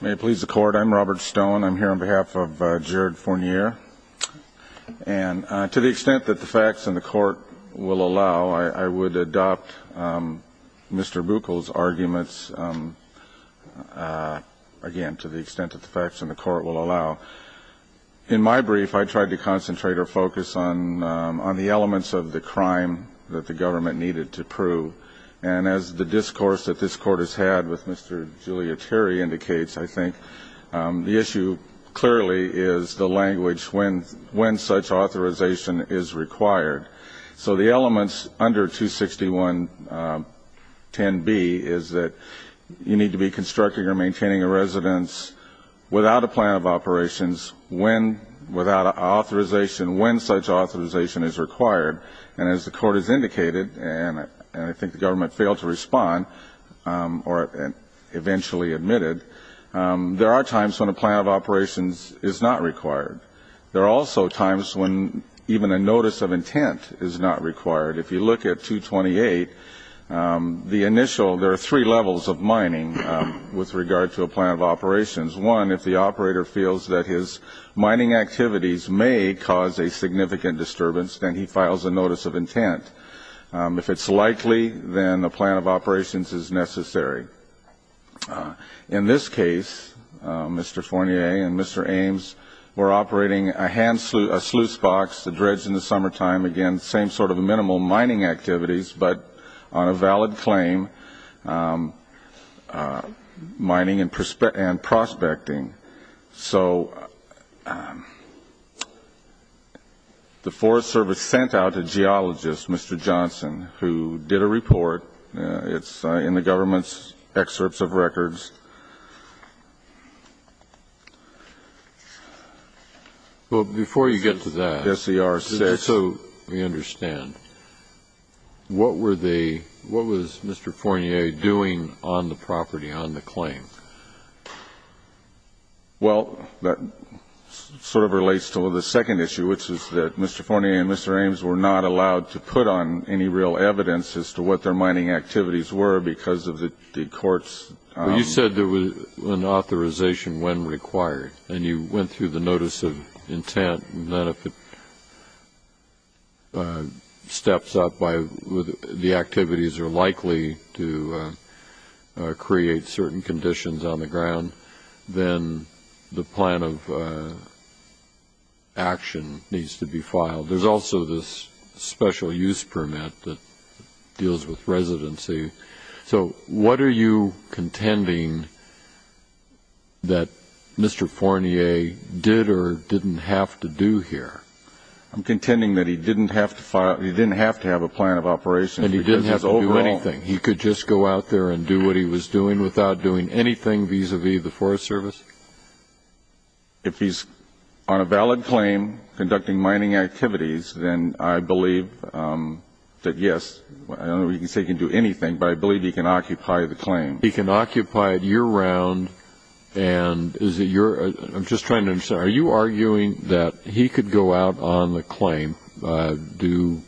May it please the court. I'm Robert Stone. I'm here on behalf of Jared Fournier. And to the extent that the facts in the court will allow, I would adopt Mr. Buckel's arguments. Again, to the extent that the facts in the court will allow. In my brief, I tried to concentrate or focus on the elements of the crime that the government needed to prove. And as the discourse that this court has had with Mr. Giuliateri indicates, I think, the issue clearly is the language when such authorization is required. So the elements under 26110B is that you need to be constructing or maintaining a residence without a plan of operations, when without authorization, when such authorization is required. And as the court has indicated, and I think the government failed to respond or eventually admitted, there are times when a plan of operations is not required. There are also times when even a notice of intent is not required. If you look at 228, the initial, there are three levels of mining with regard to a plan of operations. One, if the operator feels that his mining activities may cause a significant disturbance, then he files a notice of intent. If it's likely, then a plan of operations is necessary. In this case, Mr. Fournier and Mr. Ames were operating a hand sluice box, a dredge in the summertime. Again, same sort of minimal mining activities, but on a valid claim, mining and prospecting. So the Forest Service sent out a geologist, Mr. Johnson, who did a report. It's in the government's excerpts of records. Well, before you get to that, just so we understand, what were they, what was Mr. Fournier doing on the property, on the claim? Well, that sort of relates to the second issue, which is that Mr. Fournier and Mr. Ames were not allowed to put on any real evidence as to what their mining activities were because of the court's. You said there was an authorization when required, and you went through the notice of intent, and then if it steps up, the activities are likely to create certain conditions on the ground, then the plan of action needs to be filed. There's also this special use permit that deals with residency. So what are you contending that Mr. Fournier did or didn't have to do here? I'm contending that he didn't have to have a plan of operation. And he didn't have to do anything. He could just go out there and do what he was doing without doing anything vis-à-vis the Forest Service? If he's on a valid claim conducting mining activities, then I believe that, yes, I don't know whether you can say he can do anything, but I believe he can occupy the claim. He can occupy it year-round, and is it your, I'm just trying to understand, are you arguing that he could go out on the claim, do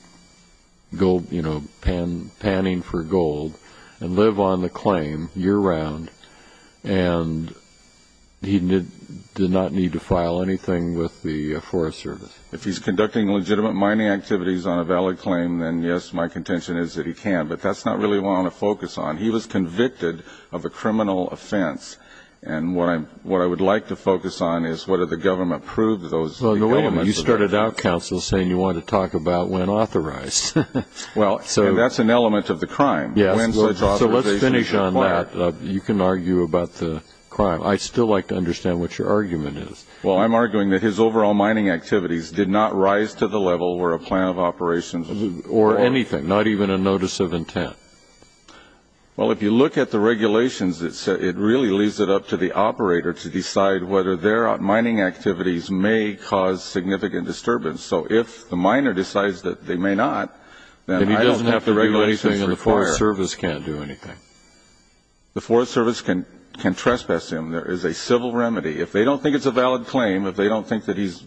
gold, you know, panning for gold, and live on the claim year-round, and he did not need to file anything with the Forest Service? If he's conducting legitimate mining activities on a valid claim, then, yes, my contention is that he can, but that's not really what I want to focus on. He was convicted of a criminal offense, and what I would like to focus on is whether the government proved those. Well, no, wait a minute. You started out, counsel, saying you wanted to talk about when authorized. Well, that's an element of the crime. Yes, so let's finish on that. You can argue about the crime. I'd still like to understand what your argument is. Well, I'm arguing that his overall mining activities did not rise to the level where a plan of operations or anything, not even a notice of intent. Well, if you look at the regulations, it really leaves it up to the operator to decide whether their mining activities may cause significant disturbance. So if the miner decides that they may not, then I don't have the regulations required. And he doesn't have to do anything, and the Forest Service can't do anything? The Forest Service can trespass him. There is a civil remedy. If they don't think it's a valid claim, if they don't think that he's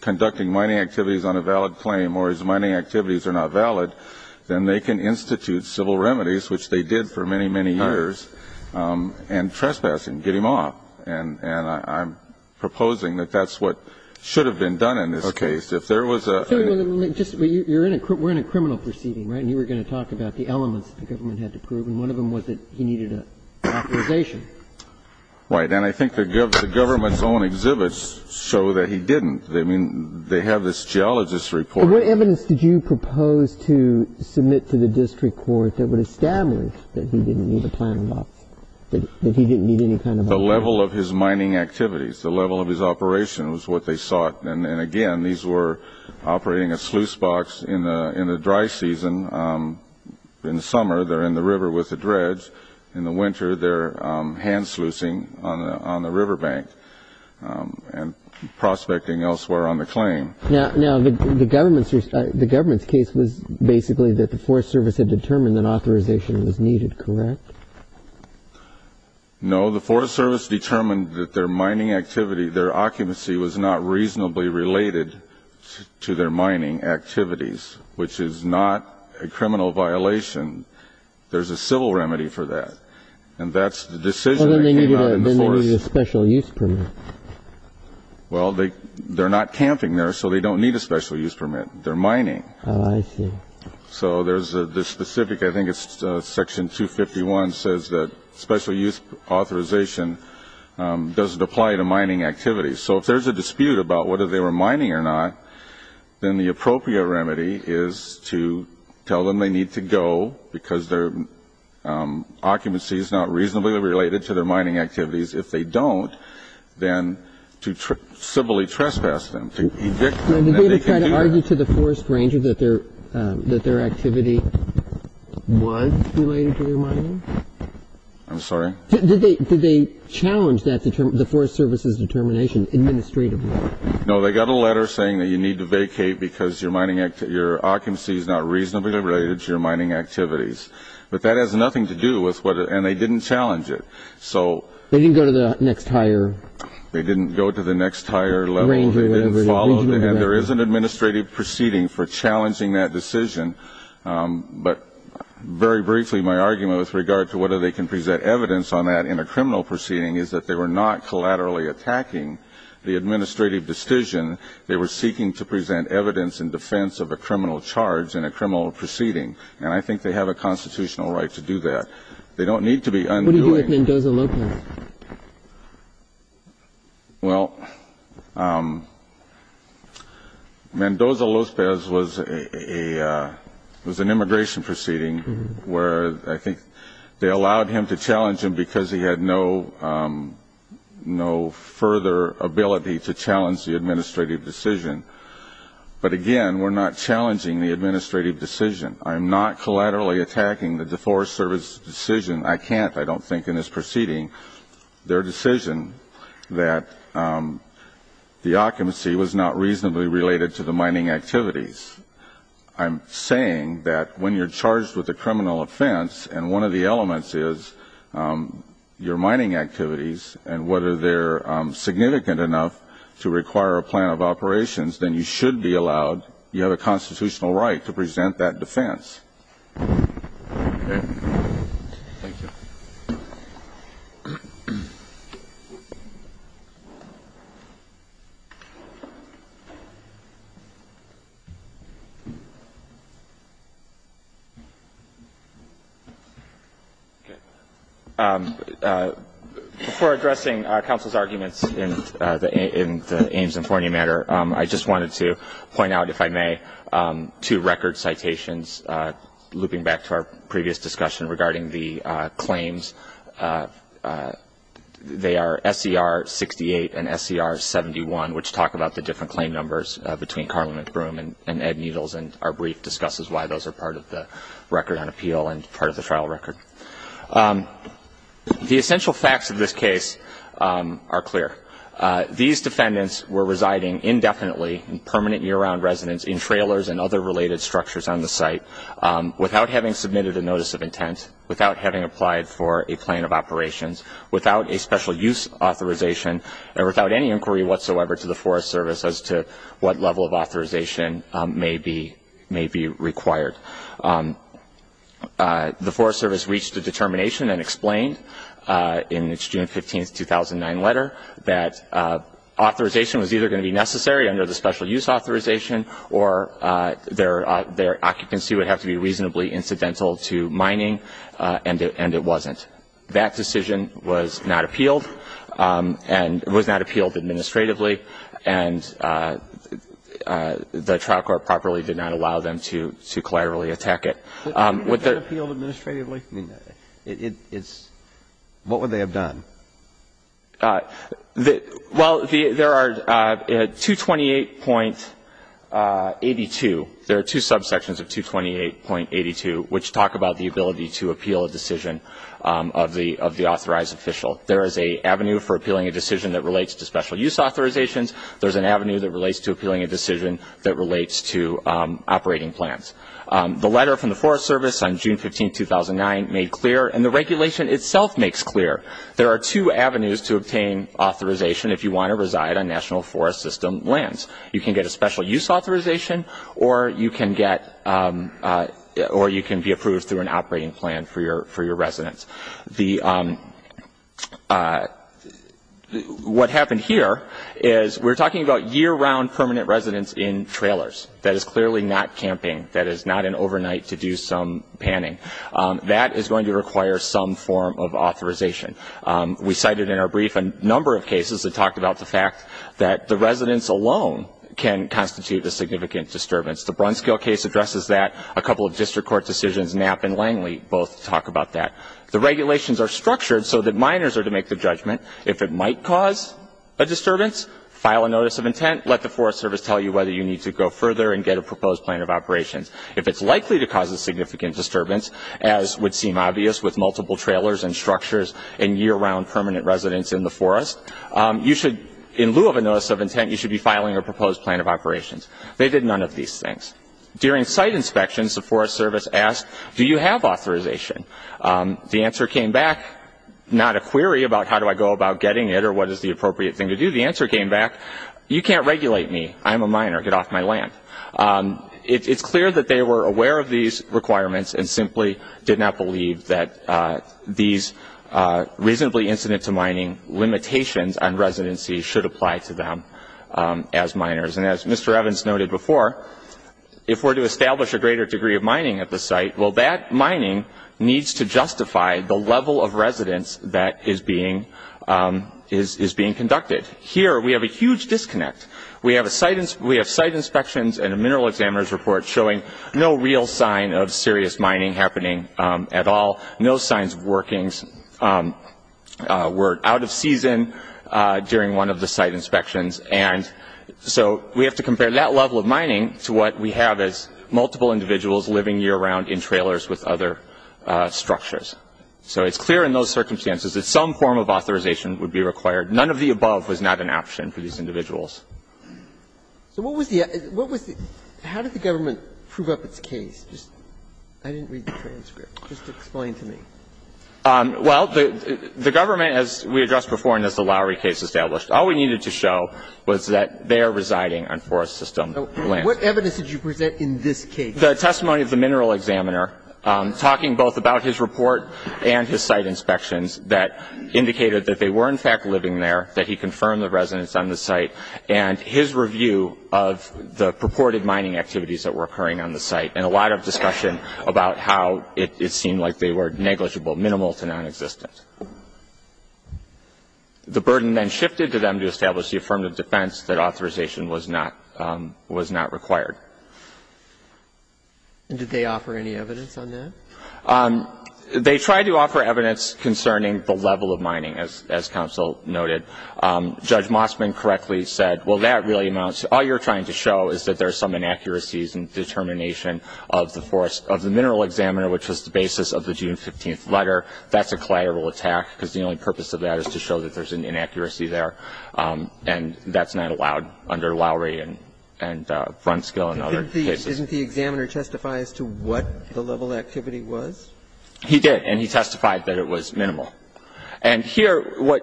conducting mining activities on a valid claim or his mining activities are not valid, then they can institute civil remedies, which they did for many, many years, and trespass him, get him off. And I'm proposing that that's what should have been done in this case. Okay. If there was a — Wait a minute. We're in a criminal proceeding, right, and you were going to talk about the elements the government had to prove, and one of them was that he needed an authorization. Right. And I think the government's own exhibits show that he didn't. I mean, they have this geologist's report. What evidence did you propose to submit to the district court that would establish that he didn't need a plan of operations, The level of his mining activities, the level of his operations was what they sought. And, again, these were operating a sluice box in the dry season. In the summer, they're in the river with the dredge. In the winter, they're hand-sluicing on the riverbank and prospecting elsewhere on the claim. Now, the government's case was basically that the Forest Service had determined that authorization was needed, correct? No. The Forest Service determined that their mining activity, their occupancy, was not reasonably related to their mining activities, which is not a criminal violation. There's a civil remedy for that, and that's the decision they cannot enforce. Well, then they needed a special use permit. Well, they're not camping there, so they don't need a special use permit. They're mining. Oh, I see. So there's a specific, I think it's section 251, says that special use authorization doesn't apply to mining activities. So if there's a dispute about whether they were mining or not, then the appropriate remedy is to tell them they need to go because their occupancy is not reasonably related to their mining activities. If they don't, then to civilly trespass them, to evict them. Now, did they ever try to argue to the Forest Ranger that their activity was related to their mining? I'm sorry? Did they challenge the Forest Service's determination administratively? No, they got a letter saying that you need to vacate because your occupancy is not reasonably related to your mining activities. But that has nothing to do with what – and they didn't challenge it. So – They didn't go to the next higher – There is an administrative proceeding for challenging that decision. But very briefly, my argument with regard to whether they can present evidence on that in a criminal proceeding is that they were not collaterally attacking the administrative decision. They were seeking to present evidence in defense of a criminal charge in a criminal proceeding. And I think they have a constitutional right to do that. They don't need to be undoing – What do you do with Mendoza Lopez? Well, Mendoza Lopez was an immigration proceeding where I think they allowed him to challenge him because he had no further ability to challenge the administrative decision. But again, we're not challenging the administrative decision. I'm not collaterally attacking the Forest Service's decision. I can't, I don't think, in this proceeding their decision that the occupancy was not reasonably related to the mining activities. I'm saying that when you're charged with a criminal offense and one of the elements is your mining activities and whether they're significant enough to require a plan of operations, then you should be allowed – you have a constitutional right to present that defense. Okay. Thank you. Okay. Before addressing counsel's arguments in the Ames and Forney matter, I just wanted to point out, if I may, two record citations, looping back to our previous discussion regarding the claims. They are SCR 68 and SCR 71, which talk about the different claim numbers between Carlin McBroom and Ed Needles, and our brief discusses why those are part of the record on appeal and part of the trial record. The essential facts of this case are clear. These defendants were residing indefinitely in permanent year-round residence in trailers and other related structures on the site without having submitted a notice of intent, without having applied for a plan of operations, without a special use authorization, and without any inquiry whatsoever to the Forest Service as to what level of authorization may be required. The Forest Service reached a determination and explained in its June 15, 2009 letter that authorization was either going to be necessary under the special use authorization or their occupancy would have to be reasonably incidental to mining, and it wasn't. That decision was not appealed, and it was not appealed administratively, and the trial court properly did not allow them to collaterally attack it. With the ---- If it had appealed administratively, what would they have done? Well, there are 228.82. There are two subsections of 228.82 which talk about the ability to appeal a decision of the authorized official. There is an avenue for appealing a decision that relates to special use authorizations. There is an avenue that relates to appealing a decision that relates to operating plans. The letter from the Forest Service on June 15, 2009 made clear, and the regulation itself makes clear, there are two avenues to obtain authorization if you want to reside on National Forest System lands. You can get a special use authorization or you can get ---- or you can be approved through an operating plan for your residence. The ---- what happened here is we're talking about year-round permanent residence in trailers. That is clearly not camping. That is not an overnight to do some panning. That is going to require some form of authorization. We cited in our brief a number of cases that talked about the fact that the residence alone can constitute a significant disturbance. The Brunskill case addresses that. A couple of district court decisions, Knapp and Langley, both talk about that. The regulations are structured so that minors are to make the judgment. If it might cause a disturbance, file a notice of intent. Let the Forest Service tell you whether you need to go further and get a proposed plan of operations. If it's likely to cause a significant disturbance, as would seem obvious with multiple trailers and structures and year-round permanent residence in the forest, you should, in lieu of a notice of intent, you should be filing a proposed plan of operations. They did none of these things. During site inspections, the Forest Service asked, do you have authorization? The answer came back, not a query about how do I go about getting it or what is the appropriate thing to do. The answer came back, you can't regulate me. I'm a minor. Get off my land. It's clear that they were aware of these requirements and simply did not believe that these reasonably incident to mining limitations on residency should apply to them as minors. And as Mr. Evans noted before, if we're to establish a greater degree of mining at the site, well, that mining needs to justify the level of residence that is being conducted. Here, we have a huge disconnect. We have site inspections and a mineral examiner's report showing no real sign of serious mining happening at all, no signs of workings were out of season during one of the site inspections. And so we have to compare that level of mining to what we have as multiple individuals living year-round in trailers with other structures. So it's clear in those circumstances that some form of authorization would be required. None of the above was not an option for these individuals. So what was the other? How did the government prove up its case? I didn't read the transcript. Just explain to me. Well, the government, as we addressed before and as the Lowery case established, all we needed to show was that they are residing on forest system land. What evidence did you present in this case? The testimony of the mineral examiner talking both about his report and his site inspections that indicated that they were in fact living there, that he confirmed the residence on the site, and his review of the purported mining activities that were occurring on the site and a lot of discussion about how it seemed like they were negligible, minimal to nonexistent. The burden then shifted to them to establish the affirmative defense that authorization was not required. And did they offer any evidence on that? They tried to offer evidence concerning the level of mining, as counsel noted. Judge Mossman correctly said, well, that really amounts to all you're trying to show is that there's some inaccuracies in determination of the mineral examiner, which was the basis of the June 15th letter. That's a collateral attack because the only purpose of that is to show that there's an inaccuracy there. And that's not allowed under Lowery and Frontskill and other cases. Didn't the examiner testify as to what the level of activity was? He did, and he testified that it was minimal. And here what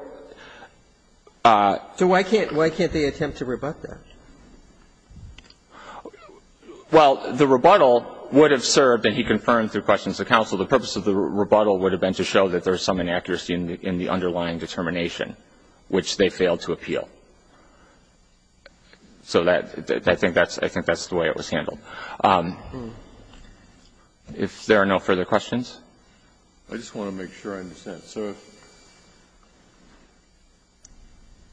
— So why can't they attempt to rebut that? Well, the rebuttal would have served, and he confirmed through questions of counsel, the purpose of the rebuttal would have been to show that there's some inaccuracy in the underlying determination, which they failed to appeal. So I think that's the way it was handled. If there are no further questions. I just want to make sure I understand.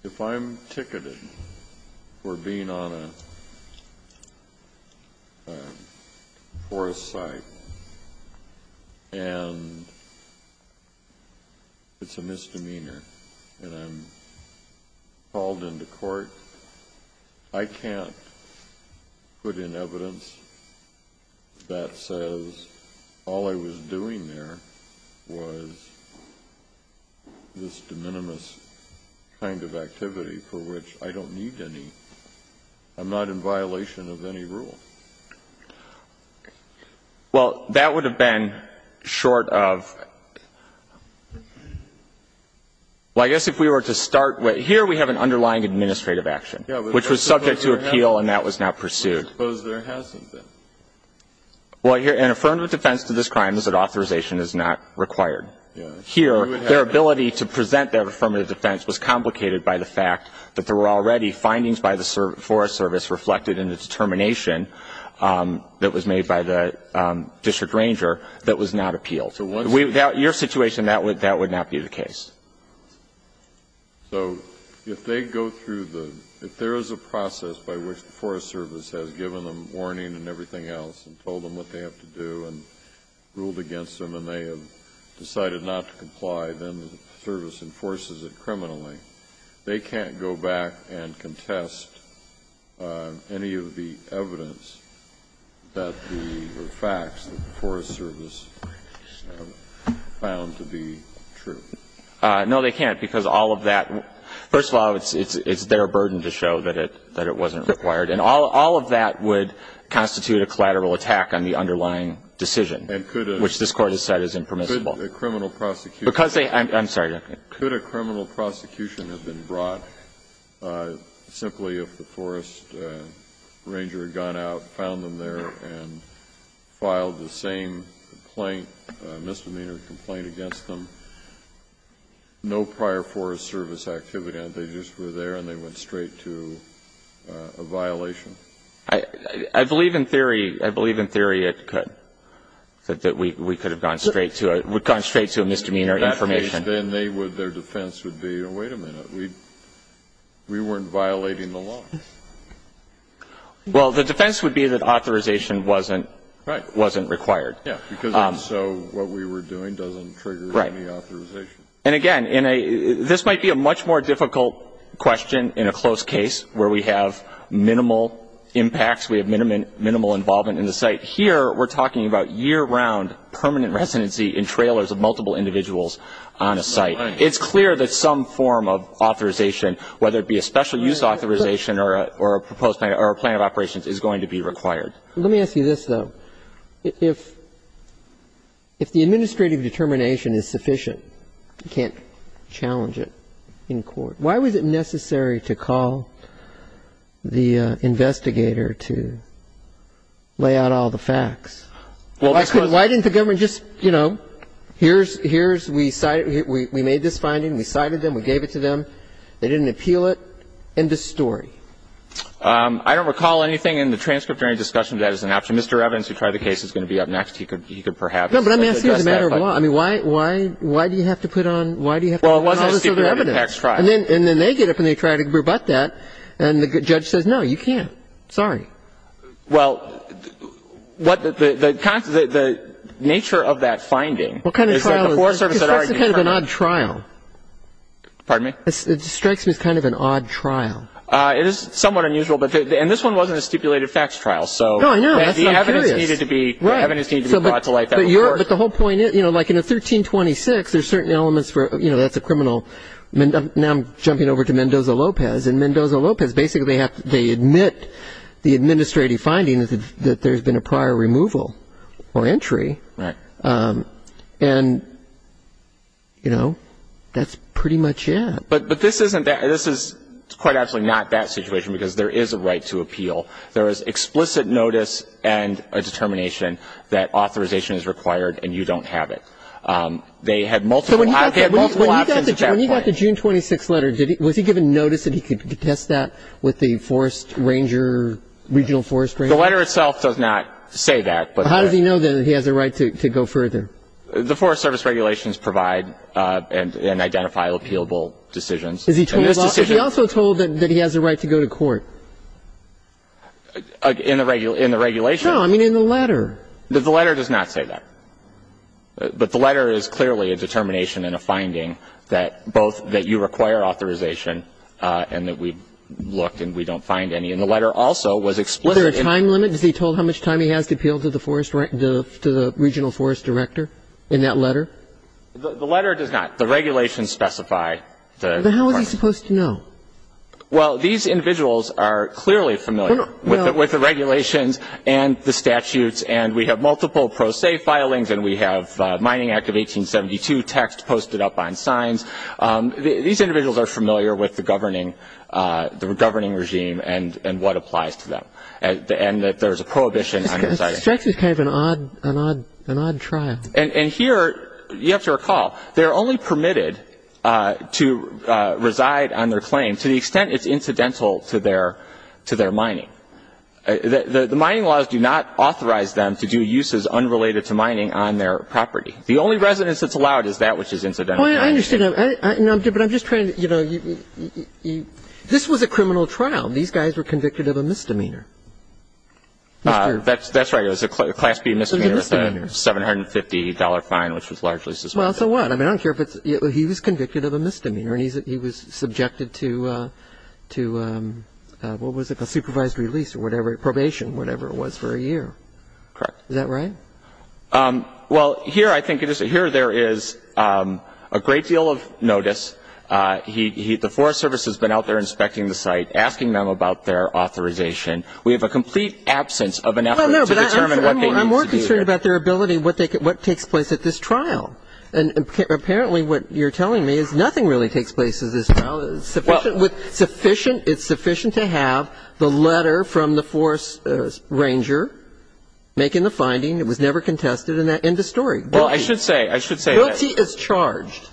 If I'm ticketed for being on a forest site and it's a misdemeanor and I'm called into court, I can't put in evidence that says all I was doing there was this de minimis kind of activity for which I don't need any. I'm not in violation of any rule. Well, that would have been short of — well, I guess if we were to start with — Yeah, but that's supposed to have — Which was subject to appeal and that was not pursued. Well, I suppose there has to have been. Well, here, an affirmative defense to this crime is that authorization is not required. Yeah. Here, their ability to present their affirmative defense was complicated by the fact that there were already findings by the Forest Service reflected in the determination that was made by the district ranger that was not appealed. So once — Without your situation, that would not be the case. So if they go through the — if there is a process by which the Forest Service has given them warning and everything else and told them what they have to do and ruled against them and they have decided not to comply, then the Service enforces it criminally. They can't go back and contest any of the evidence that the — or facts that the Forest Service found to be true. No, they can't, because all of that — first of all, it's their burden to show that it wasn't required. And all of that would constitute a collateral attack on the underlying decision, which this Court has said is impermissible. Could a criminal prosecution — Because they — I'm sorry. Could a criminal prosecution have been brought simply if the forest ranger had gone out, found them there and filed the same complaint, misdemeanor complaint against them, no prior Forest Service activity, and they just were there and they went straight to a violation? I believe in theory — I believe in theory it could, that we could have gone straight to a — would have gone straight to a misdemeanor information. Then they would — their defense would be, oh, wait a minute. We weren't violating the law. Well, the defense would be that authorization wasn't — Right. — wasn't required. Yeah, because also what we were doing doesn't trigger any authorization. Right. And again, this might be a much more difficult question in a close case where we have minimal impacts, we have minimal involvement in the site. Here we're talking about year-round permanent residency in trailers of multiple individuals on a site. It's clear that some form of authorization, whether it be a special use authorization or a proposed plan or a plan of operations, is going to be required. Let me ask you this, though. If the administrative determination is sufficient, you can't challenge it in court, why was it necessary to call the investigator to lay out all the facts? Well, because — Why didn't the government just, you know, here's — here's — we made this finding, we cited them, we gave it to them. They didn't appeal it. End of story. I don't recall anything in the transcript or any discussion of that as an option. Mr. Evidence, who tried the case, is going to be up next. He could — he could perhaps address that. No, but let me ask you as a matter of law. I mean, why — why — why do you have to put on — why do you have to call this other evidence? Well, it wasn't a secretive tax trial. And then — and then they get up and they try to rebut that, and the judge says, no, you can't. Well, what the — the nature of that finding is that the Forest Service had already determined — What kind of trial is this? Because that's kind of an odd trial. Pardon me? It strikes me as kind of an odd trial. It is somewhat unusual, but — and this one wasn't a stipulated tax trial, so — No, I know. That's not curious. The evidence needed to be — Right. The evidence needed to be brought to light. But you're — but the whole point is, you know, like in a 1326, there's certain elements for — you know, that's a criminal — now I'm jumping over to Mendoza-Lopez. In Mendoza-Lopez, basically they have — they admit the administrative findings that there's been a prior removal or entry. Right. And, you know, that's pretty much it. But this isn't — this is quite actually not that situation, because there is a right to appeal. There is explicit notice and a determination that authorization is required, and you don't have it. They had multiple — they had multiple options at that point. So when you got the June 26th letter, was he given notice that he could contest that with the forest ranger, regional forest ranger? The letter itself does not say that, but — But how does he know that he has a right to go further? The Forest Service regulations provide and identify appealable decisions. Is he told about — In this decision — But he also told that he has a right to go to court. In the regulation — No. I mean, in the letter. The letter does not say that. But the letter is clearly a determination and a finding that both — that you require authorization and that we looked and we don't find any. And the letter also was explicit in — Was there a time limit? Was he told how much time he has to appeal to the forest — to the regional forest director in that letter? The letter does not. The regulations specify the requirements. But how is he supposed to know? Well, these individuals are clearly familiar with the regulations and the statutes, and we have multiple pro se filings and we have Mining Act of 1872 text posted up on signs. These individuals are familiar with the governing — the governing regime and what applies to them, and that there is a prohibition on residing. This is kind of an odd — an odd trial. And here, you have to recall, they're only permitted to reside on their claim to the extent it's incidental to their — to their mining. The mining laws do not authorize them to do uses unrelated to mining on their property. The only residence that's allowed is that which is incidental. Well, I understand. But I'm just trying to — you know, this was a criminal trial. These guys were convicted of a misdemeanor. That's right. It was a Class B misdemeanor with a $750 fine, which was largely suspended. Well, so what? I mean, I don't care if it's — he was convicted of a misdemeanor, and he was subjected to — to — what was it? A supervised release or whatever, probation, whatever it was, for a year. Correct. Is that right? Well, here I think it is — here there is a great deal of notice. He — the Forest Service has been out there inspecting the site, asking them about their authorization. We have a complete absence of an effort to determine what they need to do here. Well, no, but I'm more concerned about their ability, what they can — what takes place at this trial. And apparently what you're telling me is nothing really takes place at this trial. It's sufficient — it's sufficient to have the letter from the Forest Ranger making the finding. It was never contested in the story. Well, I should say — I should say that. Guilty as charged.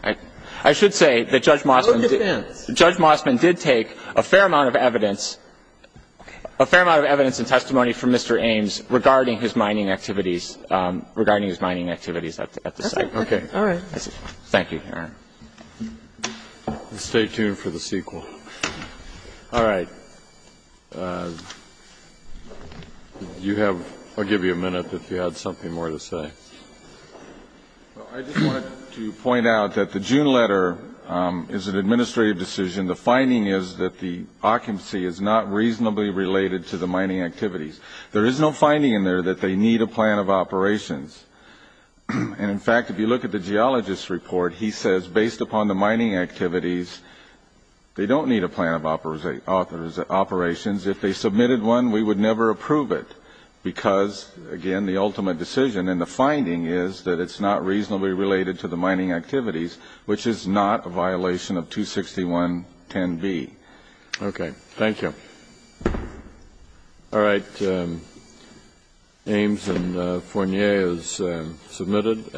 I should say that Judge Mossman did take a fair amount of evidence — a fair amount of evidence and testimony from Mr. Ames regarding his mining activities — regarding his mining activities at the site. Okay. All right. Thank you, Your Honor. Stay tuned for the sequel. All right. Do you have — I'll give you a minute if you had something more to say. Well, I just wanted to point out that the June letter is an administrative decision. The finding is that the occupancy is not reasonably related to the mining activities. There is no finding in there that they need a plan of operations. And, in fact, if you look at the geologist's report, he says, based upon the mining activities, they don't need a plan of operations. If they submitted one, we would never approve it because, again, the ultimate decision in the finding is that it's not reasonably related to the mining activities, which is not a violation of 26110B. Okay. Thank you. All right. Ames and Fournier is submitted.